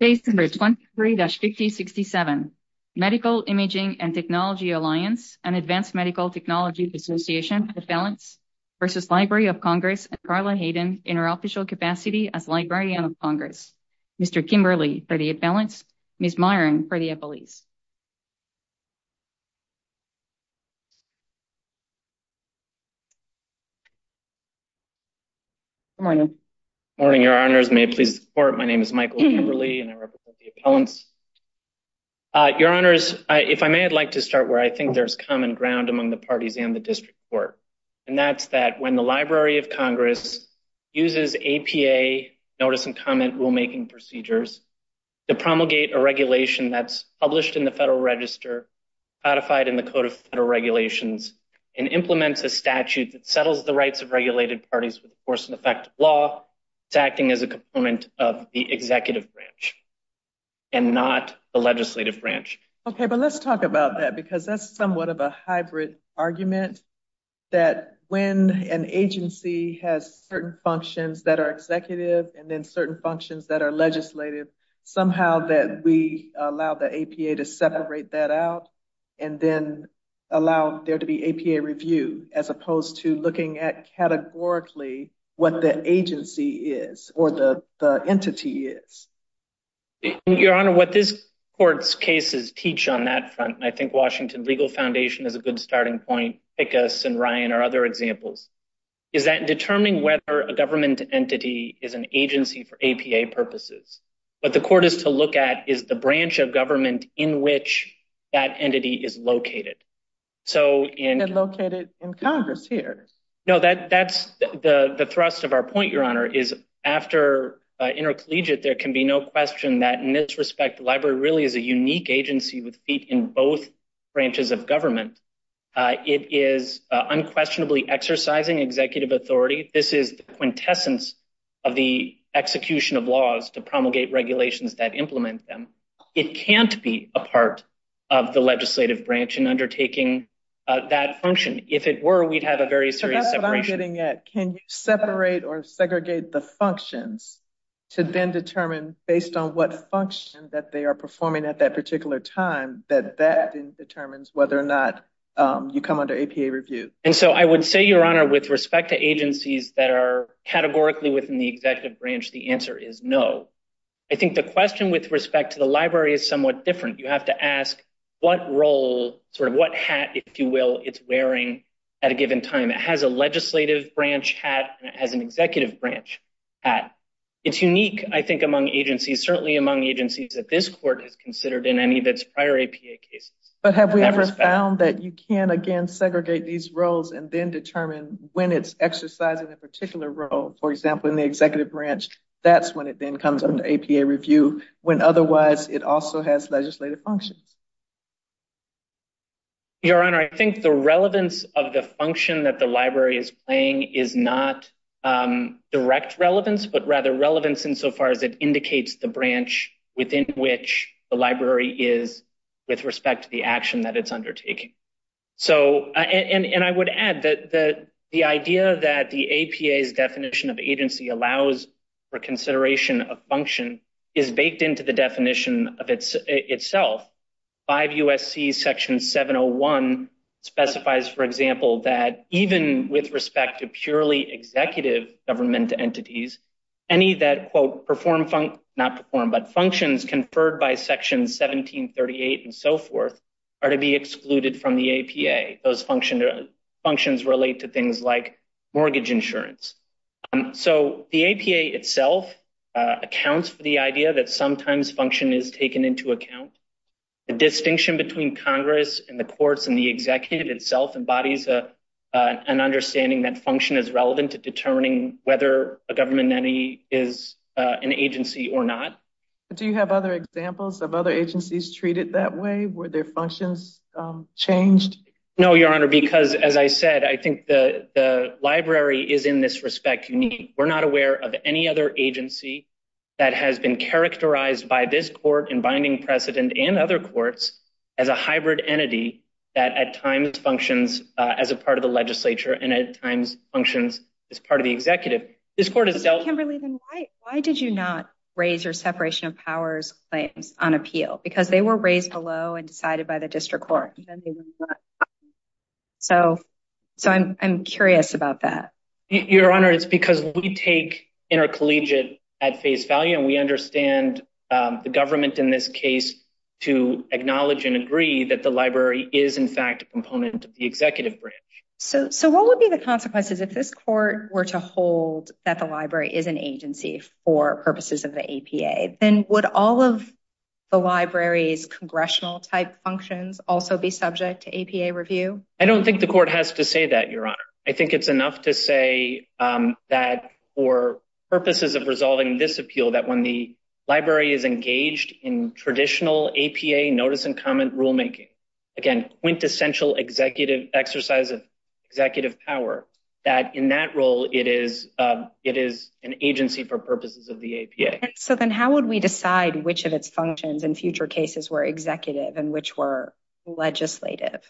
Page number 23-5067. Medical Imaging & Technology Alliance and Advanced Medical Technology Association for the Advalence v. Library of Congress and Carla Hayden in her official capacity as Librarian of Congress. Mr. Kimberly for the Advalence, Ms. Myron for the Appellees. Good morning. Good morning, Your Honors. May it please the Court, my name is Michael Kimberly and I represent the Appellants. Your Honors, if I may, I'd like to start where I think there's common ground among the parties and the District Court, and that's that when the Library of Congress uses APA, Notice and Comment Rulemaking Procedures, to promulgate a regulation that's published in the Federal Register, codified in the Code of Federal Regulations, and implements a statute that settles the rights of regulated parties with the force and effect of law, it's acting as a component of the Executive Branch and not the Legislative Branch. Okay, but let's talk about that because that's somewhat of a hybrid argument that when an agency has certain functions that are Executive and then certain functions that are Legislative, somehow that we allow the APA to separate that out and then allow there to be APA review as opposed to looking at categorically what the agency is or the entity is. Your Honor, what this Court's cases teach on that front, and I think Washington Legal Foundation is a good starting point, Pickus and Ryan are other examples, is that determining whether a government entity is an agency for APA purposes. What the Court is to look at is the branch of government in which that entity is located. And located in Congress here. No, that's the thrust of our point, Your Honor, is after intercollegiate there can be no question that in this respect the Library really is a unique agency with feet in both branches of government. It is unquestionably exercising executive authority. This is the quintessence of the execution of laws to promulgate regulations that implement them. It can't be a part of the Legislative Branch in undertaking that function. If it were, we'd have a very serious separation. So that's what I'm getting at. Can you separate or segregate the functions to then determine based on what function that they are performing at that particular time that that then determines whether or not you come under APA review? And so I would say, Your Honor, with respect to agencies that are categorically within the Executive Branch, the answer is no. I think the question with respect to the Library is somewhat different. You have to ask what role, sort of what hat, if you will, it's wearing at a given time. It has a Legislative Branch hat and it has an Executive Branch hat. It's unique, I think, among agencies, certainly among agencies that this Court has considered in any of its prior APA cases. But have we ever found that you can, again, segregate these roles and then determine when it's exercising a particular role? For example, in the Executive Branch, that's when it then comes under APA review, when otherwise it also has legislative functions. Your Honor, I think the relevance of the function that the Library is playing is not direct relevance, but rather relevance insofar as it indicates the branch within which the Library is with respect to the action that it's undertaking. So, and I would add that the idea that the APA's definition of agency allows for consideration of function is baked into the definition of itself. 5 U.S.C. Section 701 specifies, for example, that even with respect to purely executive government entities, any that, quote, perform, not perform, but functions conferred by Section 1738 and so forth are to be excluded from the APA. Those functions relate to things like mortgage insurance. So, the APA itself accounts for the idea that sometimes function is taken into account. The distinction between Congress and the courts and the Executive itself embodies an understanding that function is relevant to determining whether a government entity is an agency or not. Do you have other examples of other agencies treated that way? Were their functions changed? No, Your Honor, because, as I said, I think the Library is, in this respect, unique. We're not aware of any other agency that has been characterized by this Court and as a part of the Legislature and at times functions as part of the Executive. This Court has dealt— Kimberly, then why did you not raise your separation of powers claims on appeal? Because they were raised below and decided by the District Court. So, I'm curious about that. Your Honor, it's because we take intercollegiate at face value and we understand the government in this case to acknowledge and agree that the Library is, in fact, a component of the Executive branch. So, what would be the consequences if this Court were to hold that the Library is an agency for purposes of the APA? Then would all of the Library's congressional-type functions also be subject to APA review? I don't think the Court has to say that, Your Honor. I think it's enough to say that for purposes of resolving this appeal, that when the Library is engaged in traditional APA notice and comment rulemaking—again, quintessential executive exercise of executive power—that in that role, it is an agency for purposes of the APA. So, then how would we decide which of its functions in future cases were executive and which were legislative?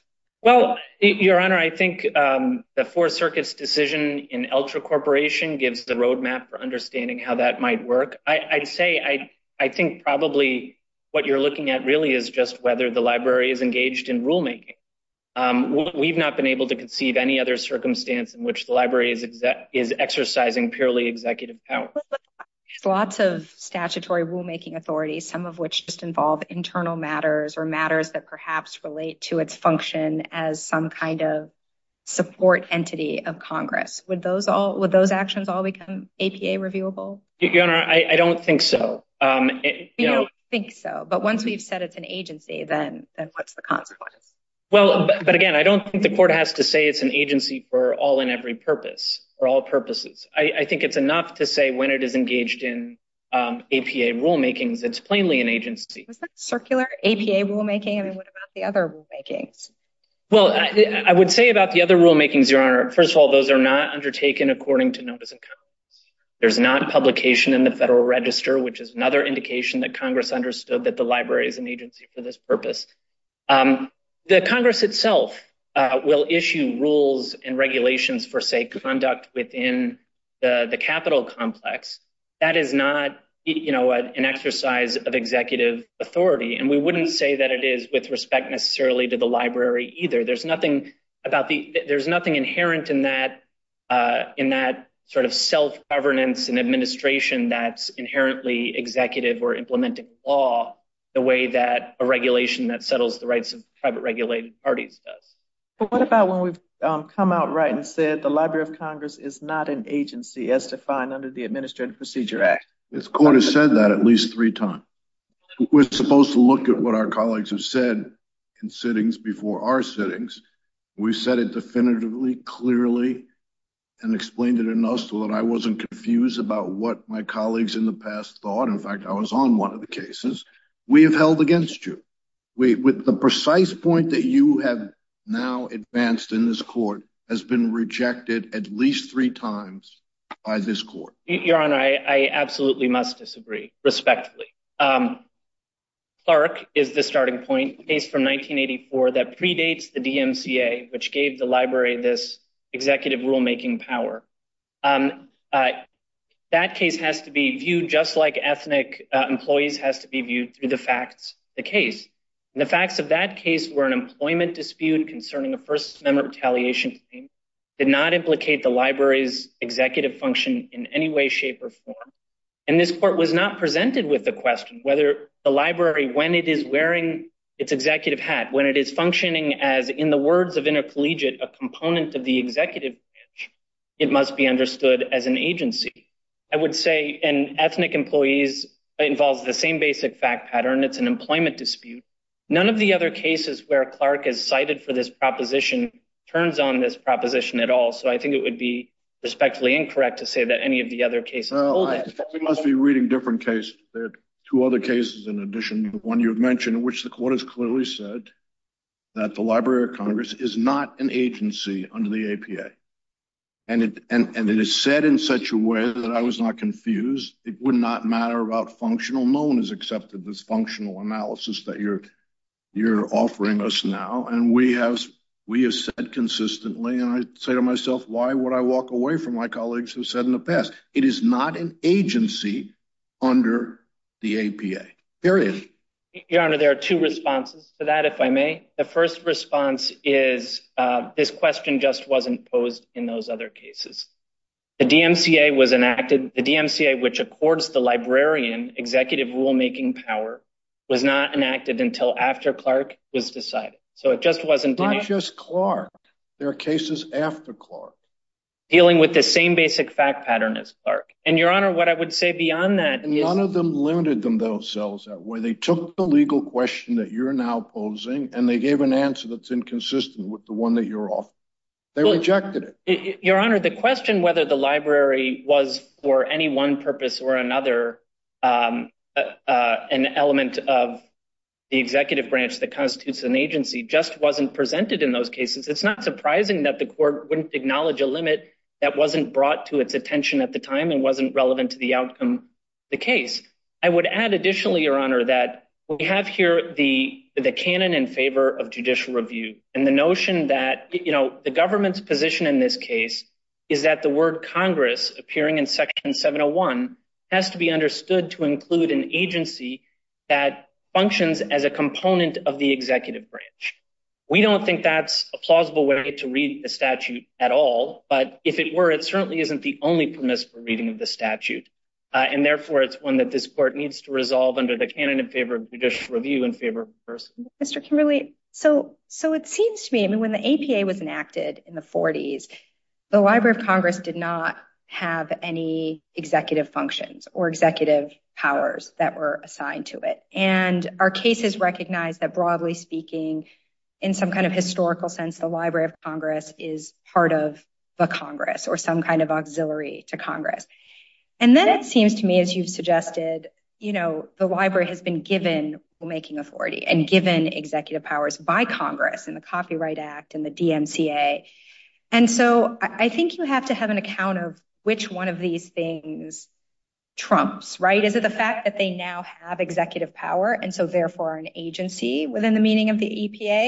Well, Your Honor, I think the Fourth Circuit's decision in Elcha Corporation gives the roadmap for understanding how that might work. I'd say, I think probably what you're looking at really is just whether the Library is engaged in rulemaking. We've not been able to conceive any other circumstance in which the Library is exercising purely executive power. There's lots of statutory rulemaking authorities, some of which just involve internal matters or matters that perhaps relate to its function as some kind of support entity of Congress. Would those actions all become APA reviewable? Your Honor, I don't think so. You don't think so. But once we've said it's an agency, then what's the consequence? Well, but again, I don't think the Court has to say it's an agency for all and every purpose or all purposes. I think it's enough to say when it is engaged in APA rulemakings, it's plainly an agency. Was that circular APA rulemaking? I mean, what about the other rulemakings? Well, I would say about the other rulemakings, Your Honor, first of all, those are not undertaken according to notice and comments. There's not publication in the Federal Register, which is another indication that Congress understood that the Library is an agency for this purpose. The Congress itself will issue rules and regulations for, say, conduct within the capital complex. That is not an exercise of executive authority, and we wouldn't say that it is with respect necessarily to the Library either. There's nothing inherent in that sort of self-governance and administration that's inherently executive or implementing the law the way that a regulation that settles the rights of private regulated parties does. But what about when we've come out right and said the Library of Congress is not an agency as defined under the Administrative Procedure Act? The Court has said that at least three times. We're supposed to look at what our colleagues have said in before our sittings. We've said it definitively, clearly, and explained it enough so that I wasn't confused about what my colleagues in the past thought. In fact, I was on one of the cases. We have held against you. The precise point that you have now advanced in this Court has been rejected at least three times by this Court. Your Honor, I absolutely must disagree, respectively. Clark is the starting point, a case from 1984 that predates the DMCA, which gave the Library this executive rulemaking power. That case has to be viewed just like ethnic employees has to be viewed through the facts of the case. And the facts of that case were an employment dispute concerning a First Amendment retaliation claim did not implicate the Library's question whether the Library, when it is wearing its executive hat, when it is functioning as, in the words of intercollegiate, a component of the executive branch, it must be understood as an agency. I would say an ethnic employee involves the same basic fact pattern. It's an employment dispute. None of the other cases where Clark is cited for this proposition turns on this proposition at all. So I think it would be respectfully incorrect to say that any of the other cases hold it. We must be reading different cases. There are two other cases in addition to the one you've mentioned, which the Court has clearly said that the Library of Congress is not an agency under the APA. And it is said in such a way that I was not confused. It would not matter about functional. No one has accepted this functional analysis that you're offering us now. And we have said consistently, and I say to myself, why would I walk away from my colleagues who have said in the past, it is not an agency under the APA. Period. Your Honor, there are two responses to that, if I may. The first response is this question just wasn't posed in those other cases. The DMCA was enacted, the DMCA, which accords the Librarian executive rulemaking power, was not enacted until after Clark was decided. So it just wasn't. Not just Clark. There are cases after Clark. Dealing with the same basic fact pattern as Clark. And Your Honor, what I would say beyond that is. None of them limited themselves that way. They took the legal question that you're now posing, and they gave an answer that's inconsistent with the one that you're offering. They rejected it. Your Honor, the question whether the library was for any one purpose or another, an element of the executive branch that constitutes an agency, just wasn't presented in those cases. It's not surprising that the court wouldn't acknowledge a limit that wasn't brought to its attention at the time and wasn't relevant to the outcome of the case. I would add additionally, Your Honor, that we have here the canon in favor of judicial review and the notion that the government's position in this case is that the word Congress appearing in Section 701 has to be understood to include an agency that functions as a component of the executive branch. We don't think that's a plausible way to read the statute at all, but if it were, it certainly isn't the only permissible reading of the statute. And therefore, it's one that this court needs to resolve under the canon in favor of judicial review in favor of diversity. Mr. Kimberly, so it seems to me, I mean, when the APA was enacted in the 40s, the Library of Congress did not have any executive functions or executive powers that were assigned to it. And our cases recognize that broadly speaking, in some kind of historical sense, the Library of Congress is part of the Congress or some kind of auxiliary to Congress. And then it seems to me, as you've suggested, the Library has been given making authority and given executive powers by Congress and the Copyright Act and the DMCA. And so I think you have to have an account of which one of these things trumps, right? Is it the fact that they now have executive power and so therefore an agency within the meaning of the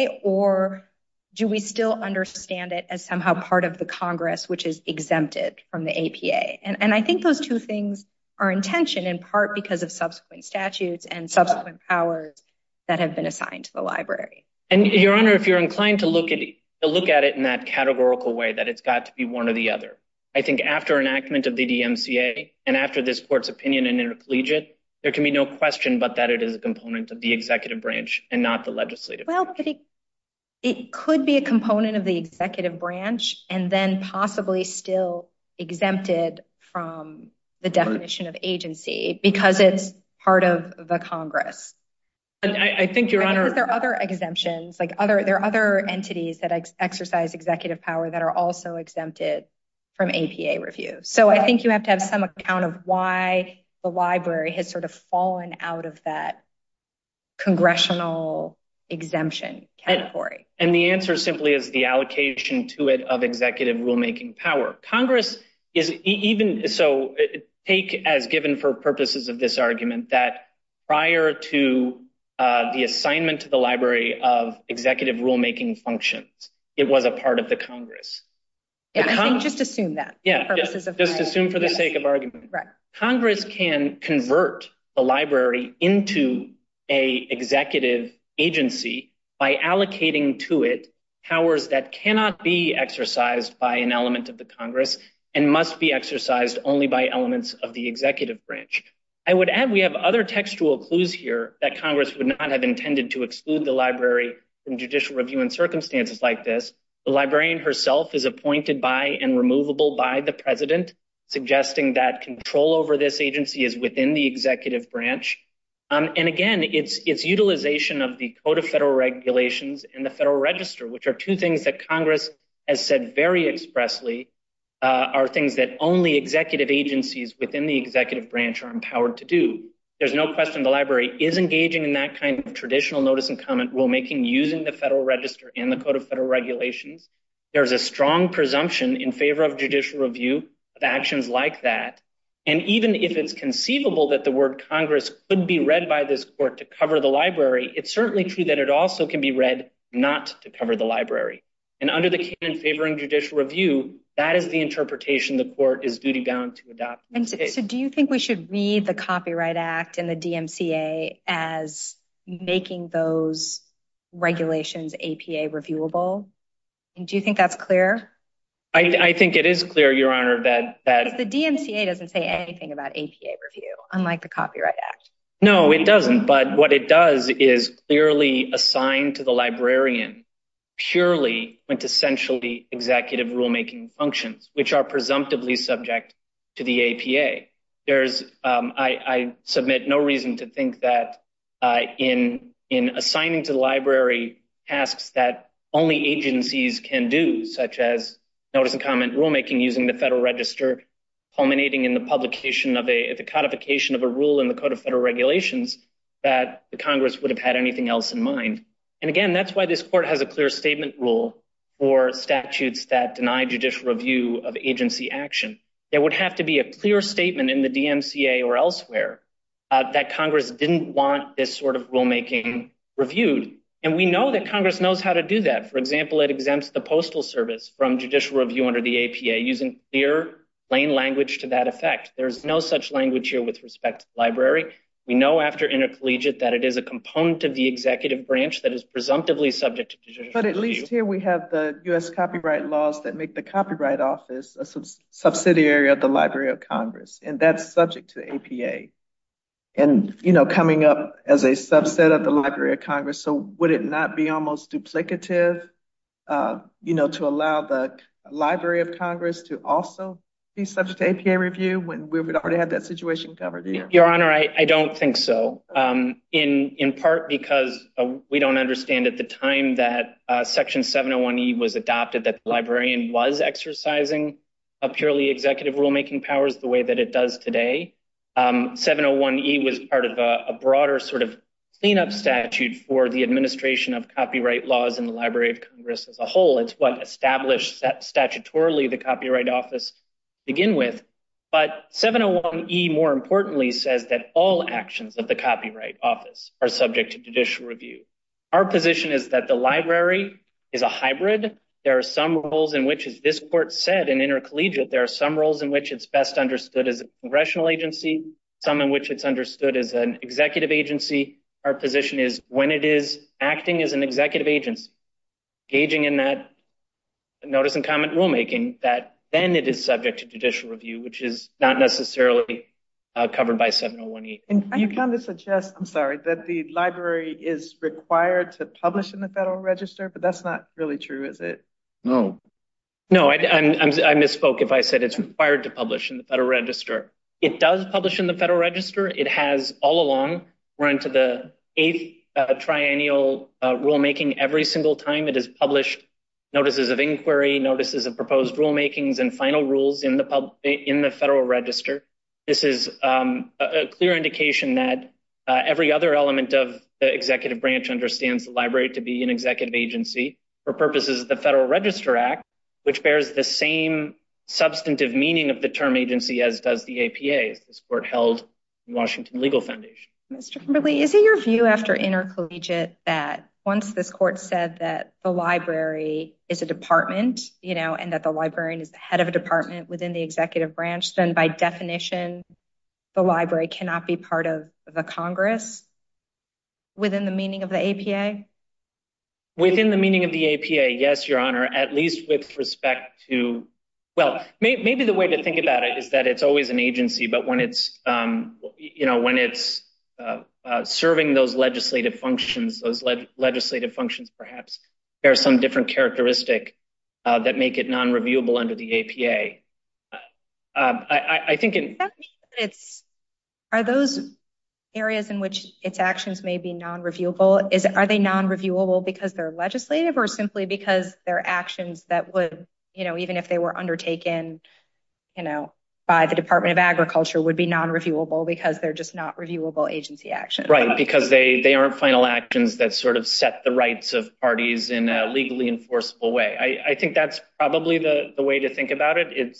APA? Or do we still understand it as somehow part of the Congress which is exempted from the APA? And I think those two things are in tension in part because of subsequent statutes and subsequent powers that have been assigned to the Library. And your Honor, if you're inclined to look at it in that categorical way, that it's got to be one or the other. I think after enactment of the DMCA and after this Court's opinion in intercollegiate, there can be no question but that it is a component of the executive branch and not the legislative branch. Well, it could be a component of the executive branch and then possibly still exempted from the definition of agency because it's part of the Congress. And I think, Your Honor... Because there are other exemptions, there are other entities that exercise executive power that are also exempted from APA review. So I think you have to have some account of why the Library has sort of fallen out of that congressional exemption category. And the answer simply is the allocation to it of executive rulemaking power. Congress is even... So take as given for purposes of this argument that prior to the assignment to the Library of executive rulemaking functions, it was a part of the Congress. Just assume that. Yeah, just assume for the sake of argument. Congress can convert the Library into a executive agency by allocating to it powers that cannot be exercised by an element of the Congress and must be exercised only by elements of the executive branch. I would add, we have other textual clues here that Congress would not have intended to exclude the Library from judicial review in circumstances like this. The Librarian herself is appointed by and removable by the President, suggesting that control over this agency is within the executive branch. And again, it's utilization of the Code of Federal Regulations and the Federal Register, which are two things that Congress has said very expressly, are things that only executive agencies within the executive branch are empowered to do. There's no question the Library is engaging in that kind of traditional notice and comment rulemaking using the Federal Register and the Code of Federal Regulations. There's a strong presumption in favor of judicial review of actions like that. And even if it's conceivable that the word Congress could be read by this court to cover the Library, it's certainly true that it also can be read not to cover the Library. And under the canon favoring judicial review, that is the interpretation the court is duty to adopt. And so do you think we should read the Copyright Act and the DMCA as making those regulations APA reviewable? And do you think that's clear? I think it is clear, Your Honor, that the DMCA doesn't say anything about APA review, unlike the Copyright Act. No, it doesn't. But what it does is clearly assign to the Librarian purely and essentially executive rulemaking functions, which are presumptively subject to the APA. I submit no reason to think that in assigning to the Library tasks that only agencies can do, such as notice and comment rulemaking using the Federal Register, culminating in the codification of a rule in the Code of Federal Regulations, that the Congress would have had anything else in mind. And again, that's why this Court has a clear statement rule for statutes that deny judicial review of agency action. There would have to be a clear statement in the DMCA or elsewhere that Congress didn't want this sort of rulemaking reviewed. And we know that Congress knows how to do that. For example, it exempts the Postal Service from judicial review under the APA using clear, plain language to that effect. There's no such language here with respect to the Library. We know after intercollegiate that it is a component of the executive branch that is presumptively subject to judicial review. But at least here we have the U.S. copyright laws that make the Copyright Office a subsidiary of the Library of Congress, and that's subject to APA. And, you know, coming up as a subset of the Library of Congress, so would it not be almost duplicative, you know, to allow the Library of Congress to also be subject to APA review when we would already have that situation covered? Your Honor, I don't think so, in part because we don't understand at the time that Section 701E was adopted that the Librarian was exercising purely executive rulemaking powers the way that it does today. 701E was part of a broader sort of cleanup statute for the administration of copyright laws in the Library of Congress as a whole. It's what established statutorily the Copyright Office begin with, but 701E more importantly says that all actions of the Copyright Office are subject to judicial review. Our position is that the Library is a hybrid. There are some roles in which, as this Court said, in intercollegiate, there are some roles in which it's best understood as a congressional agency, some in which it's understood as an executive agency. Our position is when it is acting as an executive agency, engaging in that notice and comment rulemaking, that then it is subject to judicial review, which is not necessarily covered by 701E. You kind of suggest, I'm sorry, that the Library is required to publish in the Federal Register, but that's not really true, is it? No. No, I misspoke if I said it's required to publish in the Federal Register. It does publish in the Federal Register. It has all along run to the eighth triennial rulemaking every single time it is published notices of inquiry, notices of proposed rulemakings, and final rules in the Federal Register. This is a clear indication that every other element of the executive branch understands the Library to be an executive agency for purposes of the Federal Register Act, which bears the same substantive meaning of the term agency as does the APA, as this Court held in Washington Legal Foundation. Mr. Kimberly, is it your view after intercollegiate that once this Court said that the Library is a and that the librarian is the head of a department within the executive branch, then by definition the Library cannot be part of the Congress within the meaning of the APA? Within the meaning of the APA, yes, Your Honor, at least with respect to, well, maybe the way to think about it is that it's always an agency, but when it's serving those legislative functions, those legislative functions perhaps, there are some different characteristics that make it non-reviewable under the APA. I think in... Are those areas in which its actions may be non-reviewable, are they non-reviewable because they're legislative or simply because they're actions that would, even if they were undertaken by the Department of Agriculture, would be non-reviewable because they're just not actions that sort of set the rights of parties in a legally enforceable way. I think that's probably the way to think about it.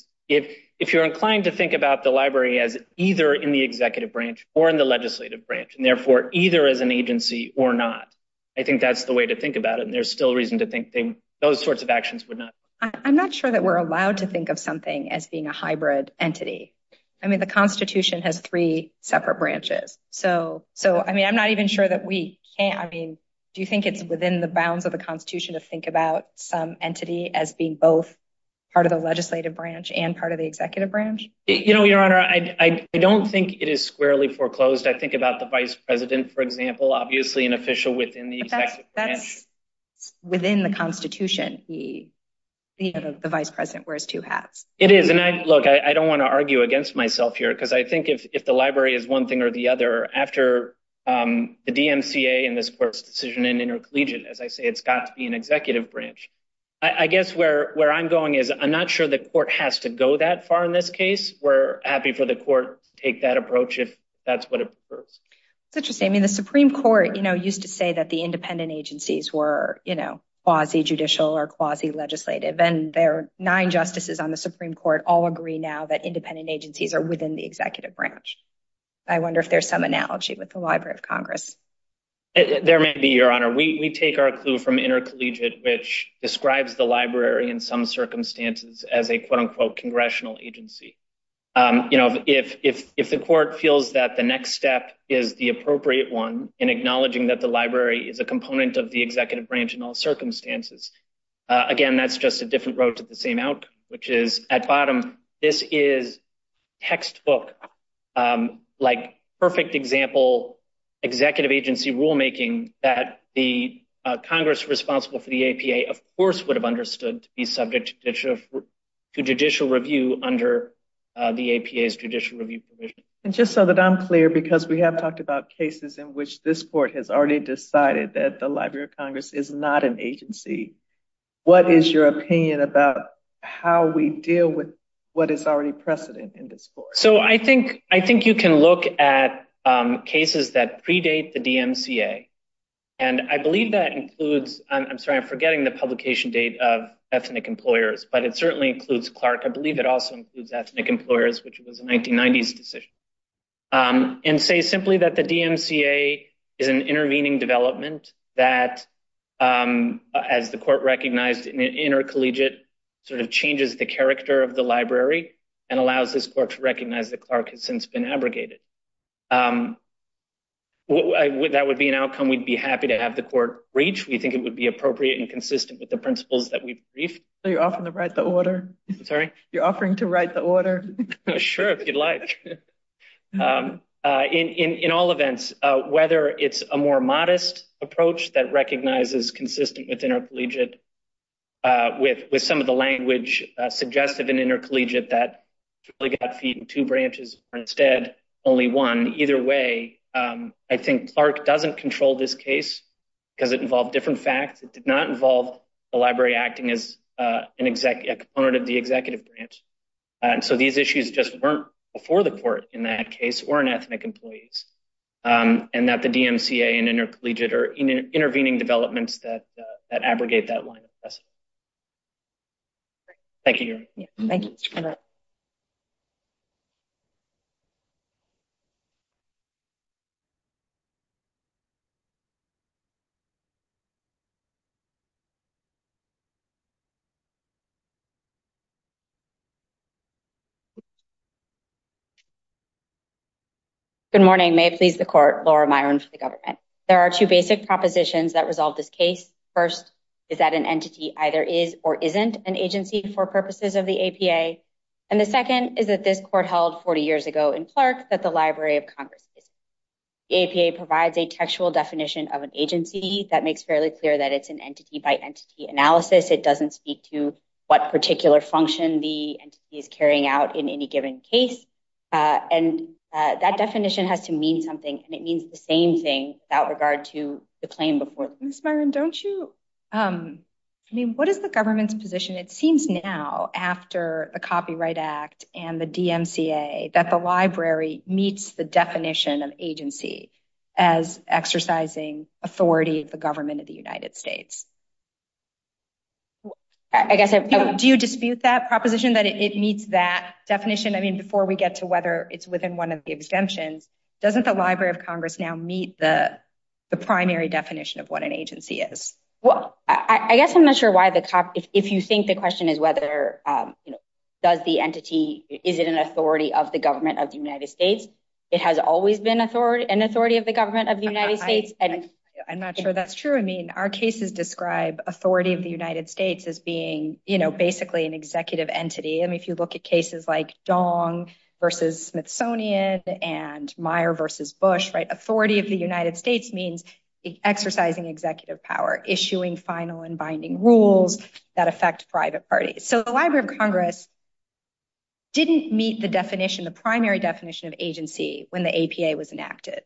If you're inclined to think about the Library as either in the executive branch or in the legislative branch, and therefore either as an agency or not, I think that's the way to think about it, and there's still reason to think those sorts of actions would not. I'm not sure that we're allowed to think of something as being a hybrid entity. I mean, the Constitution has three separate branches, so I mean, I'm not even sure that we can't, I mean, do you think it's within the bounds of the Constitution to think about some entity as being both part of the legislative branch and part of the executive branch? You know, Your Honor, I don't think it is squarely foreclosed. I think about the vice president, for example, obviously an official within the executive branch. That's within the Constitution. The vice president wears two hats. It is, and I, look, I don't want to argue against myself here because I think if the Library is one thing or the other, after the DMCA and this court's decision in intercollegiate, as I say, it's got to be an executive branch. I guess where I'm going is I'm not sure the court has to go that far in this case. We're happy for the court to take that approach if that's what it prefers. It's interesting. I mean, the Supreme Court, you know, used to say that the independent agencies were, you know, quasi-judicial or quasi-legislative, and there are nine justices on the Supreme Court all agree now that independent agencies are within the executive branch. I wonder if there's some analogy with the Library of Congress. There may be, Your Honor. We take our clue from intercollegiate, which describes the Library in some circumstances as a quote-unquote congressional agency. You know, if the court feels that the next step is the appropriate one in acknowledging that the Library is a component of the executive branch in all circumstances, again, that's just a different road to the same outcome, which is, at bottom, this is textbook, like, perfect example executive agency rulemaking that the Congress responsible for the APA, of course, would have understood to be subject to judicial review under the APA's judicial review And just so that I'm clear, because we have talked about cases in which this court has already decided that the Library of Congress is not an agency, what is your opinion about how we deal with what is already precedent in this court? So I think you can look at cases that predate the DMCA, and I believe that includes, I'm sorry, I'm forgetting the publication date of ethnic employers, but it certainly includes Clark. I believe it also includes ethnic employers, which was a 1990s decision, and say simply that the DMCA is an intervening development that, as the court recognized in an intercollegiate, sort of changes the character of the Library and allows this court to recognize that Clark has since been abrogated. That would be an outcome we'd be happy to have the court reach. We think it would be appropriate and consistent with the principles that we've briefed. So you're offering to write the order? Sorry? You're offering to write the order? Sure, if you'd like. In all events, whether it's a more modest approach that recognizes consistent with intercollegiate, with some of the language suggested in intercollegiate that really got feed in two branches, or instead only one, either way, I think Clark doesn't control this case because it involved different facts. It did not involve the Library acting as a component of the executive branch, and so these issues just weren't before the court in that case, or in ethnic employees, and that the DMCA and intercollegiate are intervening developments that abrogate that line of precedent. Thank you. Good morning. May it please the court, Laura Myron for the government. There are two basic propositions that resolve this case. First, is that an entity either is or isn't an agency for purposes of the APA, and the second is that this court held 40 years ago in Clark that the Library of Congress is. The APA provides a textual definition of an agency that makes fairly that it's an entity by entity analysis. It doesn't speak to what particular function the entity is carrying out in any given case, and that definition has to mean something, and it means the same thing without regard to the claim before. Ms. Myron, don't you, I mean, what is the government's position? It seems now after the Copyright Act and the DMCA that the Library meets the definition of agency as exercising authority of the government of the United States. I guess, do you dispute that proposition that it meets that definition? I mean, before we get to whether it's within one of the exemptions, doesn't the Library of Congress now meet the primary definition of what an agency is? Well, I guess I'm not sure why the copy, if you think the question is whether, you know, does the entity, is it an authority of the government of the United States? It has always been an authority of the government of the United States, and I'm not sure that's true. I mean, our cases describe authority of the United States as being, you know, basically an executive entity. I mean, if you look at cases like Dong versus Smithsonian and Meyer versus Bush, right, authority of the United States means exercising executive power, issuing final and binding rules that affect private parties. So, the Library of Congress didn't meet the definition, the primary definition of agency when the APA was enacted.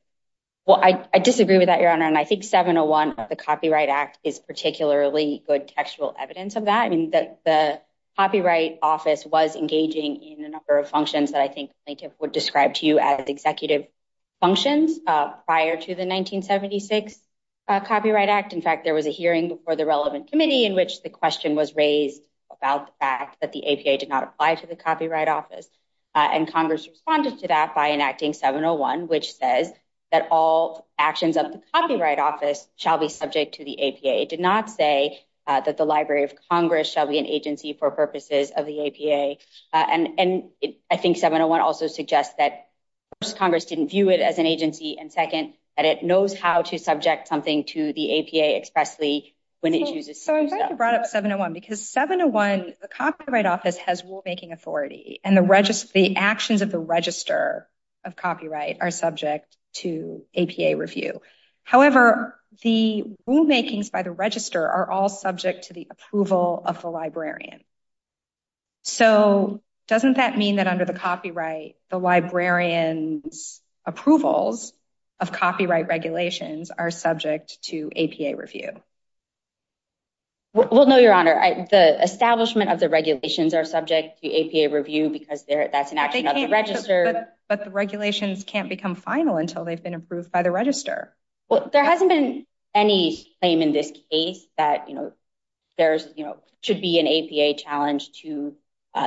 Well, I disagree with that, Your Honor, and I think 701 of the Copyright Act is particularly good textual evidence of that. I mean, the Copyright Office was engaging in a number of functions that I think plaintiff would describe to you as executive functions prior to the 1976 Copyright Act. In fact, there was a hearing before the relevant committee in which the question was raised about the fact that the APA did not apply to the Copyright Office, and Congress responded to that by enacting 701, which says that all actions of the Copyright Office shall be subject to the APA. It did not say that the Library of Congress shall be an agency for purposes of the APA, and I think 701 also suggests that first, Congress didn't view it as an agency, and second, that it knows how to subject something to the APA expressly when it chooses. So, I'm glad you brought up 701 because 701, the Copyright Office has rulemaking authority, and the actions of the Register of Copyright are subject to APA review. However, the rulemakings by the Register are all subject to the approval of the librarian. So, doesn't that mean that under the copyright, the librarian's approvals of copyright regulations are subject to APA review? Well, no, Your Honor. The establishment of the regulations are subject to APA review because that's an action of the Register. But the regulations can't become final until they've been approved by the Register. Well, there hasn't been any claim in this case that there should be an APA challenge to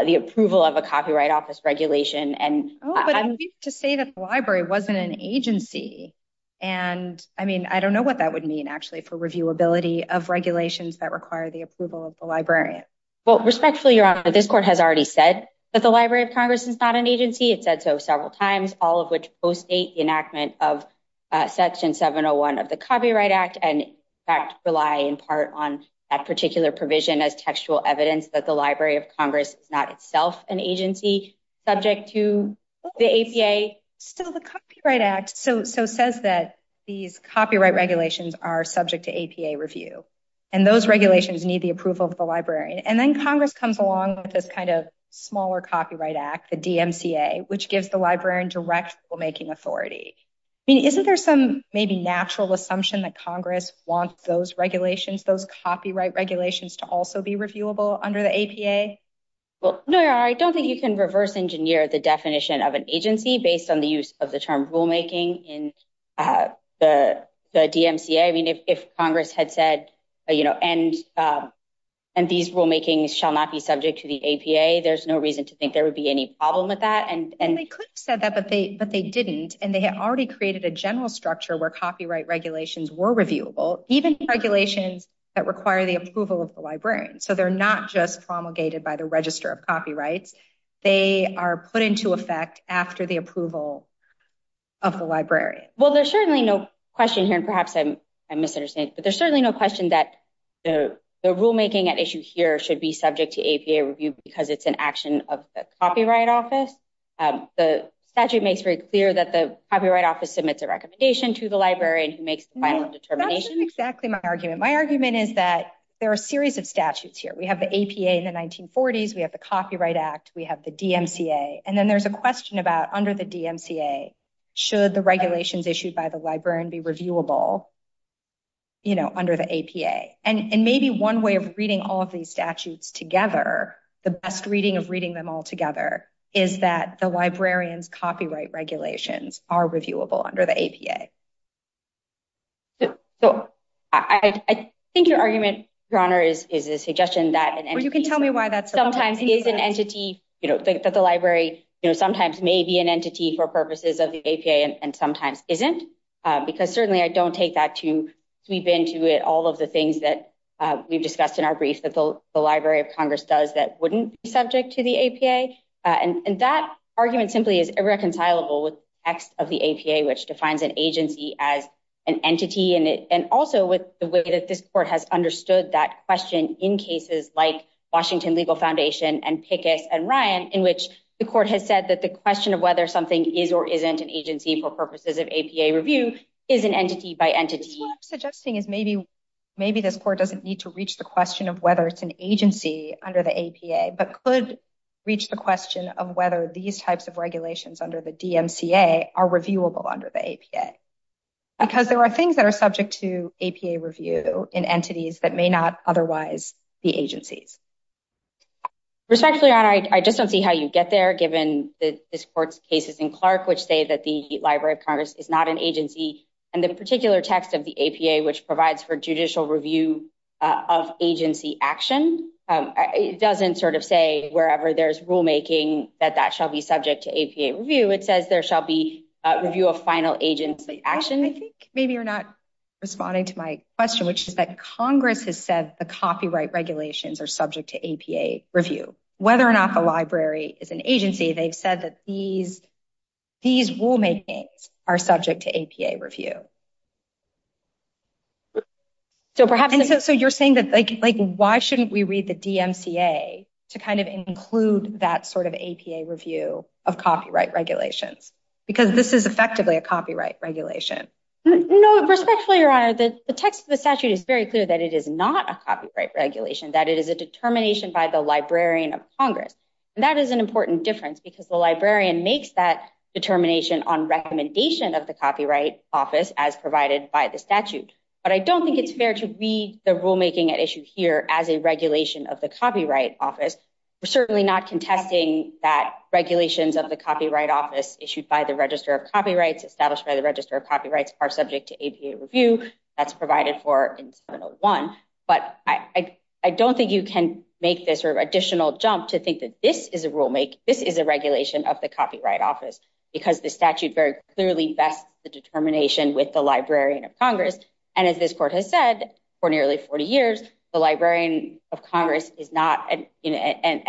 the approval of a Copyright Office regulation. Oh, but I'm going to say that the library wasn't an agency, and I mean, I don't know what that would mean actually for reviewability of regulations that require the approval of the librarian. Well, respectfully, Your Honor, this Court has already said that the Library of Congress is not an agency. It said so several times, all of which postdate the enactment of Section 701 of the Copyright Act and, in fact, rely in part on that particular provision as textual evidence that the Library of Congress is not itself an agency subject to the APA. Still, the Copyright Act says that these copyright regulations are subject to APA review, and those regulations need the librarian. And then Congress comes along with this kind of smaller Copyright Act, the DMCA, which gives the librarian direct rulemaking authority. I mean, isn't there some maybe natural assumption that Congress wants those regulations, those copyright regulations, to also be reviewable under the APA? Well, no, Your Honor, I don't think you can reverse engineer the definition of an agency based on the use of the term rulemaking in the DMCA. I mean, if Congress had said, you know, and these rulemakings shall not be subject to the APA, there's no reason to think there would be any problem with that. And they could have said that, but they didn't, and they had already created a general structure where copyright regulations were reviewable, even regulations that require the approval of the librarian. So they're not just promulgated by the Register of Copyrights. They are put into effect after the approval of the librarian. Well, there's certainly no question here, and perhaps I'm misunderstanding, but there's certainly no question that the rulemaking at issue here should be subject to APA review because it's an action of the Copyright Office. The statute makes very clear that the Copyright Office submits a recommendation to the librarian who makes the final determination. No, that isn't exactly my argument. My argument is that there are a series of statutes here. We have the APA in the 1940s, we have the Copyright Act, we have the DMCA, and then there's a question about, under the DMCA, should the regulations issued by the librarian be reviewable, you know, under the APA? And maybe one way of reading all of these statutes together, the best reading of reading them all together, is that the librarians' copyright regulations are reviewable under the APA. So I think your argument, Your Honor, is a that the library, you know, sometimes may be an entity for purposes of the APA and sometimes isn't, because certainly I don't take that to sweep into it all of the things that we've discussed in our brief that the Library of Congress does that wouldn't be subject to the APA. And that argument simply is irreconcilable with the text of the APA, which defines an agency as an entity, and also with the way that this Court has understood that question in cases like Washington Legal Foundation and Pickus and Ryan, in which the Court has said that the question of whether something is or isn't an agency for purposes of APA review is an entity by entity. What I'm suggesting is maybe maybe this Court doesn't need to reach the question of whether it's an agency under the APA, but could reach the question of whether these types of regulations under the DMCA are reviewable under the APA, because there are things that are subject to APA review in entities that may not otherwise be agencies. Respectfully, I just don't see how you get there, given that this Court's cases in Clark, which say that the Library of Congress is not an agency, and the particular text of the APA, which provides for judicial review of agency action, it doesn't sort of say wherever there's rulemaking that that shall be subject to APA review. It says there shall be a review of final agency action. I think maybe you're not responding to my question, which is Congress has said the copyright regulations are subject to APA review. Whether or not the library is an agency, they've said that these rulemakings are subject to APA review. So you're saying that, like, why shouldn't we read the DMCA to kind of include that sort of APA review of copyright regulations, because this is effectively a copyright regulation? No, respectfully, Your Honor, the text of the statute is very clear that it is not a copyright regulation, that it is a determination by the Librarian of Congress. That is an important difference, because the librarian makes that determination on recommendation of the Copyright Office, as provided by the statute. But I don't think it's fair to read the rulemaking at issue here as a regulation of the Copyright Office. We're certainly not contesting that regulations of the are subject to APA review. That's provided for in 701. But I don't think you can make this sort of additional jump to think that this is a rulemaking, this is a regulation of the Copyright Office, because the statute very clearly vests the determination with the Librarian of Congress. And as this Court has said, for nearly 40 years, the Librarian of Congress is not, and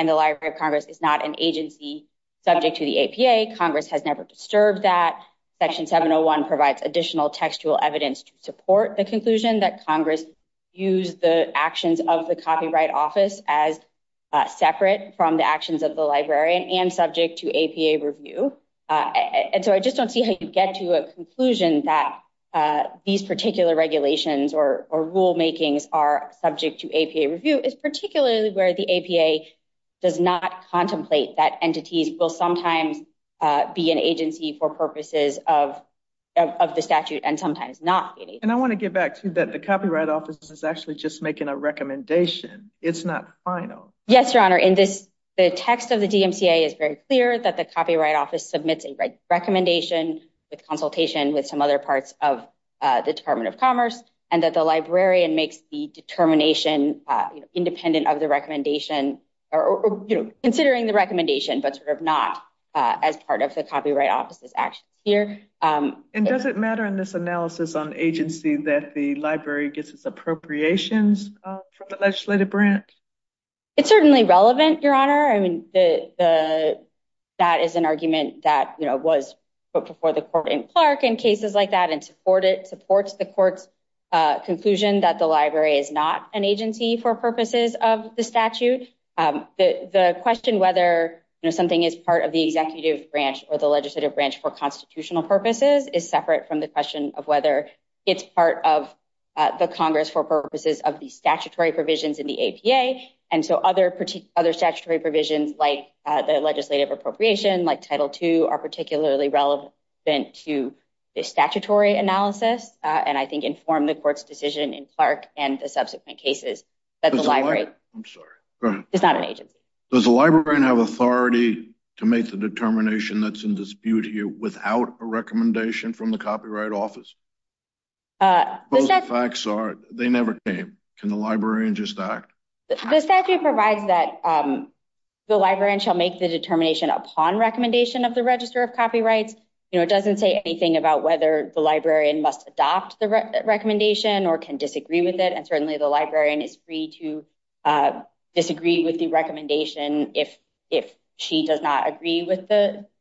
the Library of Congress is not an agency subject to the APA. Congress has never disturbed that. Section 701 provides additional textual evidence to support the conclusion that Congress used the actions of the Copyright Office as separate from the actions of the Librarian and subject to APA review. And so I just don't see how you get to a conclusion that these particular regulations or rulemakings are subject to APA review. It's particularly where the of the statute and sometimes not. And I want to get back to that the Copyright Office is actually just making a recommendation. It's not final. Yes, Your Honor. In this, the text of the DMCA is very clear that the Copyright Office submits a recommendation with consultation with some other parts of the Department of Commerce, and that the Librarian makes the determination independent of the recommendation or, you know, considering the recommendation, but sort of not as part of the Copyright Office's actions here. And does it matter in this analysis on agency that the Library gets its appropriations from the legislative branch? It's certainly relevant, Your Honor. I mean, that is an argument that, you know, was put before the court in Clark in cases like that and supports the court's conclusion that the Library is not an agency for purposes of the statute. The question whether, you know, something is part of the executive branch or the legislative branch for constitutional purposes is separate from the question of whether it's part of the Congress for purposes of the statutory provisions in the APA. And so other statutory provisions like the legislative appropriation, like Title II, are particularly relevant to the statutory analysis and I think inform the court's decision in Clark and the subsequent cases that the Library is not an agency. Does the Librarian have authority to make the determination that's in dispute here without a recommendation from the Copyright Office? Both the facts are they never came. Can the Librarian just act? The statute provides that the Librarian shall make the determination upon recommendation of the Register of Copyrights. You know, it doesn't say anything about whether the Librarian must adopt the recommendation or can disagree with it and certainly the Librarian is free to disagree with the recommendation if she does not agree with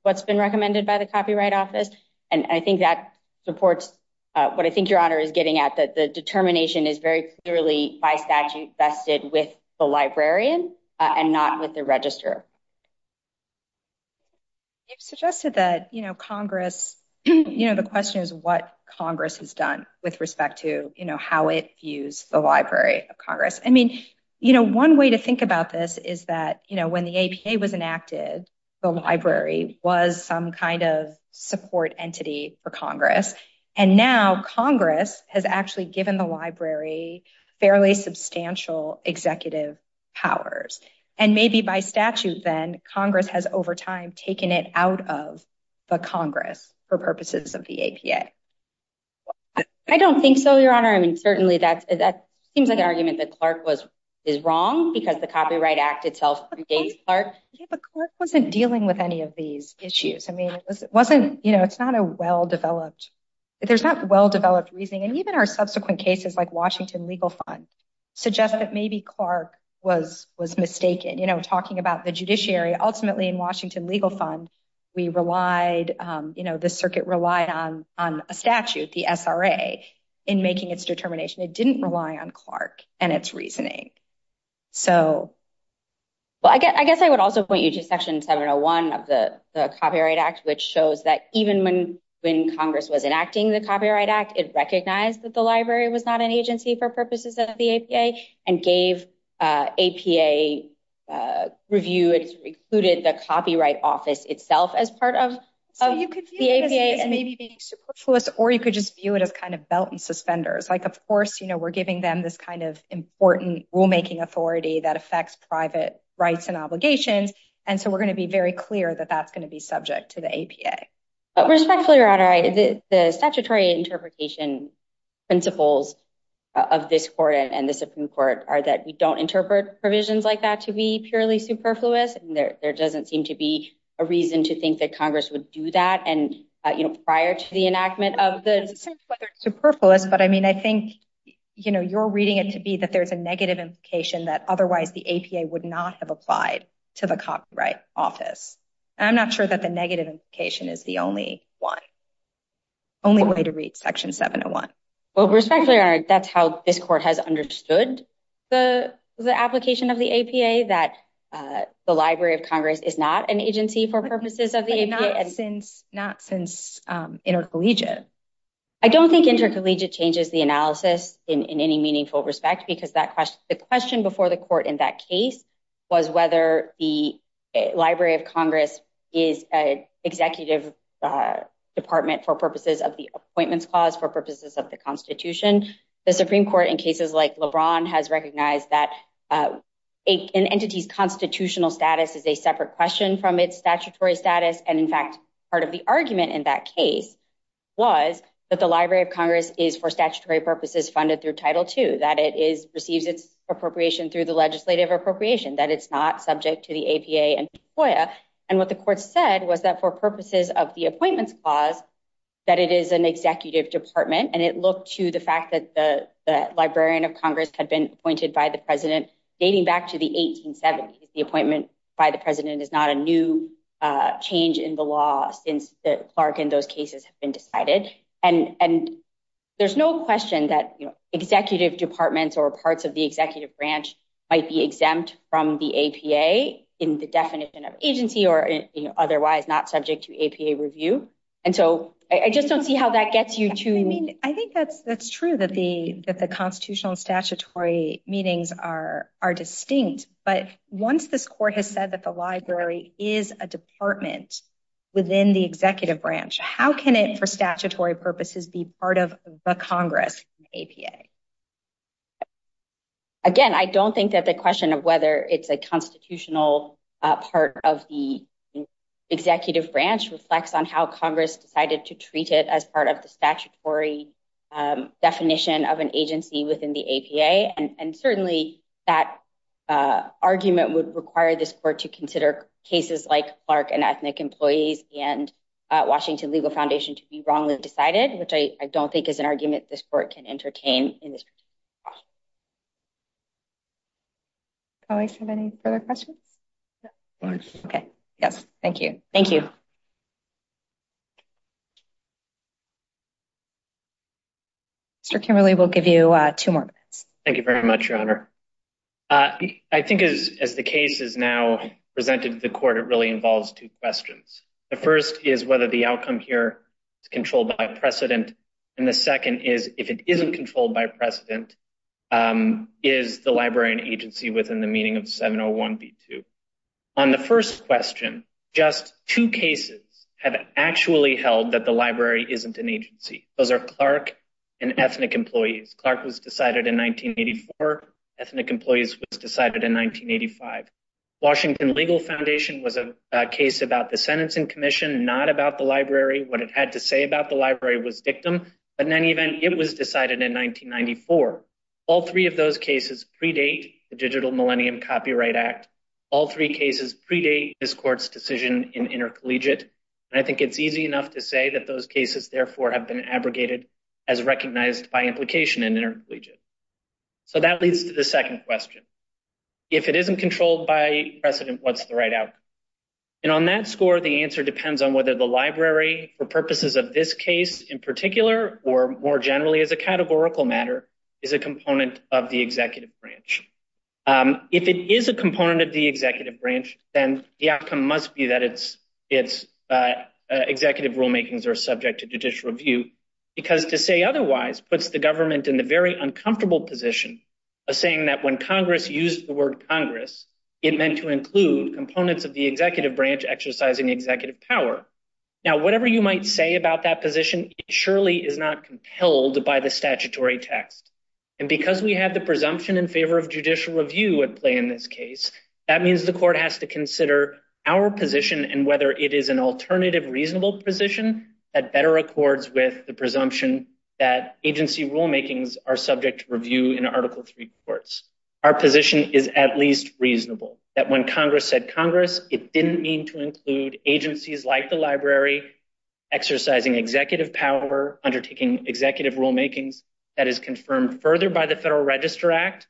what's been recommended by the Copyright Office. And I think that supports what I think Your Honor is getting at, that the determination is very clearly by statute vested with the Librarian and not with the Register. You've suggested that, you know, Congress, you know, the question is what Congress has done with respect to, you know, how it views the Library of Congress. I mean, you know, one way to think about this is that, you know, when the APA was enacted, the Library was some kind of support entity for Congress and now Congress has actually given the Library fairly substantial executive powers and maybe by statute then Congress has over time taken it out of the Congress for purposes of the APA. I don't think so, Your Honor. I mean, certainly that seems like an argument that Clark was is wrong because the Copyright Act itself regates Clark. Yeah, but Clark wasn't dealing with any of these issues. I mean, it wasn't, you know, it's not a well-developed, there's not well-developed reasoning and even our subsequent cases like Washington Legal Fund suggest that maybe Clark was mistaken. You know, talking about the judiciary, ultimately in Washington Legal Fund we relied, you know, the circuit relied on a statute, the SRA, in making its determination. It didn't rely on Clark and its reasoning. Well, I guess I would also point you to Section 701 of the Copyright Act which shows that even when Congress was enacting the Copyright Act, it recognized that the Library was not an agency for purposes of the APA and gave APA review. It included the Copyright Office itself as part of the APA. So you could view this as maybe being superfluous or you could just view it as kind of belt and suspenders. Like, of course, you know, we're giving them this kind of important rulemaking authority that affects private rights and obligations and so we're going to be very clear that that's going to be subject to the APA. Respectfully, Your Honor, the statutory interpretation principles of this court and the Supreme Court are that we don't interpret provisions like that to be purely superfluous. There doesn't seem to be a reason to think that Congress would do that and, you know, prior to the enactment of the... It's not whether it's superfluous, but I mean, I think, you know, you're reading it to be that there's a negative implication that otherwise the APA would not have applied to the Copyright Office. I'm not sure that the negative implication is the only way to read Section 701. Well, respectfully, Your Honor, that's how this court has understood the application of the APA that the Library of Congress is not an agency for purposes of the APA. But not since intercollegiate. I don't think intercollegiate changes the analysis in any meaningful respect because the question before the court in that case was whether the Library of Congress is an executive department for purposes of the Appointments Clause, for purposes of the Constitution. The Supreme Court in cases like LeBron has recognized that an entity's constitutional status is a separate question from its statutory status. And in fact, part of the argument in that case was that the Library of Congress is for statutory purposes funded through Title II, that it receives its appropriation through the legislative appropriation, that it's not for statutory purposes funded through the Appointments Clause, that it is an executive department. And it looked to the fact that the Librarian of Congress had been appointed by the President dating back to the 1870s. The appointment by the President is not a new change in the law since the Clark and those cases have been decided. And there's no question that executive departments or parts of the executive branch might be exempt from the APA in the definition of agency or otherwise not subject to APA review. And so I just don't see how that gets you to... I think that's true that the constitutional and statutory meetings are distinct. But once this court has said that the Library is a department within the executive branch, how can it for statutory purposes be part of the Congress in APA? Again, I don't think that the question of whether it's a constitutional part of the executive branch reflects on how Congress decided to treat it as part of the statutory definition of an agency within the APA. And certainly, that argument would require this court to consider cases like Clark and Ethnic Employees and Washington Legal Foundation to be wrongly decided, which I don't think is an argument this court can entertain in this. Colleagues, have any further questions? Okay. Yes. Thank you. Thank you. Mr. Kimberly, we'll give you two more minutes. Thank you very much, Your Honor. I think as the case is now presented to the court, it really involves two questions. The first is whether the outcome here is controlled by precedent. And the second is, if it isn't controlled by precedent, is the Library an agency within the meaning of 701B2? On the first question, just two cases have actually held that the Library isn't an agency. Those are Clark and Ethnic Employees. Clark was decided in 1984. Ethnic Employees was decided in 1985. Washington Legal Foundation was a case about the sentencing commission, not about the Library. What it had to say about the Library was dictum. But in any event, it was decided in 1994. All three of those cases predate the Digital Millennium Copyright Act. All three cases predate this court's decision in intercollegiate. And I think it's easy enough to say that those cases, therefore, have been abrogated as recognized by implication in intercollegiate. So that leads to the second question. If it isn't controlled by precedent, what's the right outcome? And on that score, the answer depends on whether the Library, for purposes of this case in particular, or more generally as a categorical matter, is a component of the executive branch. If it is a component of the executive branch, then the outcome must be that its executive rulemakings are subject to judicial review. Because to say otherwise puts the Congress, it meant to include components of the executive branch exercising executive power. Now, whatever you might say about that position, it surely is not compelled by the statutory text. And because we have the presumption in favor of judicial review at play in this case, that means the court has to consider our position and whether it is an alternative, reasonable position that better accords with the presumption that agency rulemakings are subject to review in Article III courts. Our position is at least reasonable, that when Congress said Congress, it didn't mean to include agencies like the Library exercising executive power, undertaking executive rulemakings. That is confirmed further by the Federal Register Act,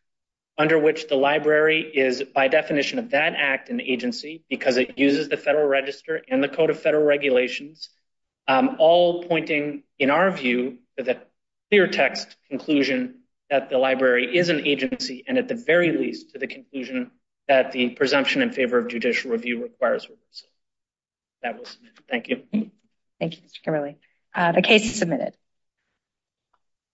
under which the Library is, by definition of that act and agency, because it uses the Federal Register and the Code of Federal Regulations, all pointing, in our view, to the clear text conclusion that the Library is an agency, and at the very least, to the conclusion that the presumption in favor of judicial review requires review. That was it. Thank you. Thank you, Mr. Kimberly. The case is submitted.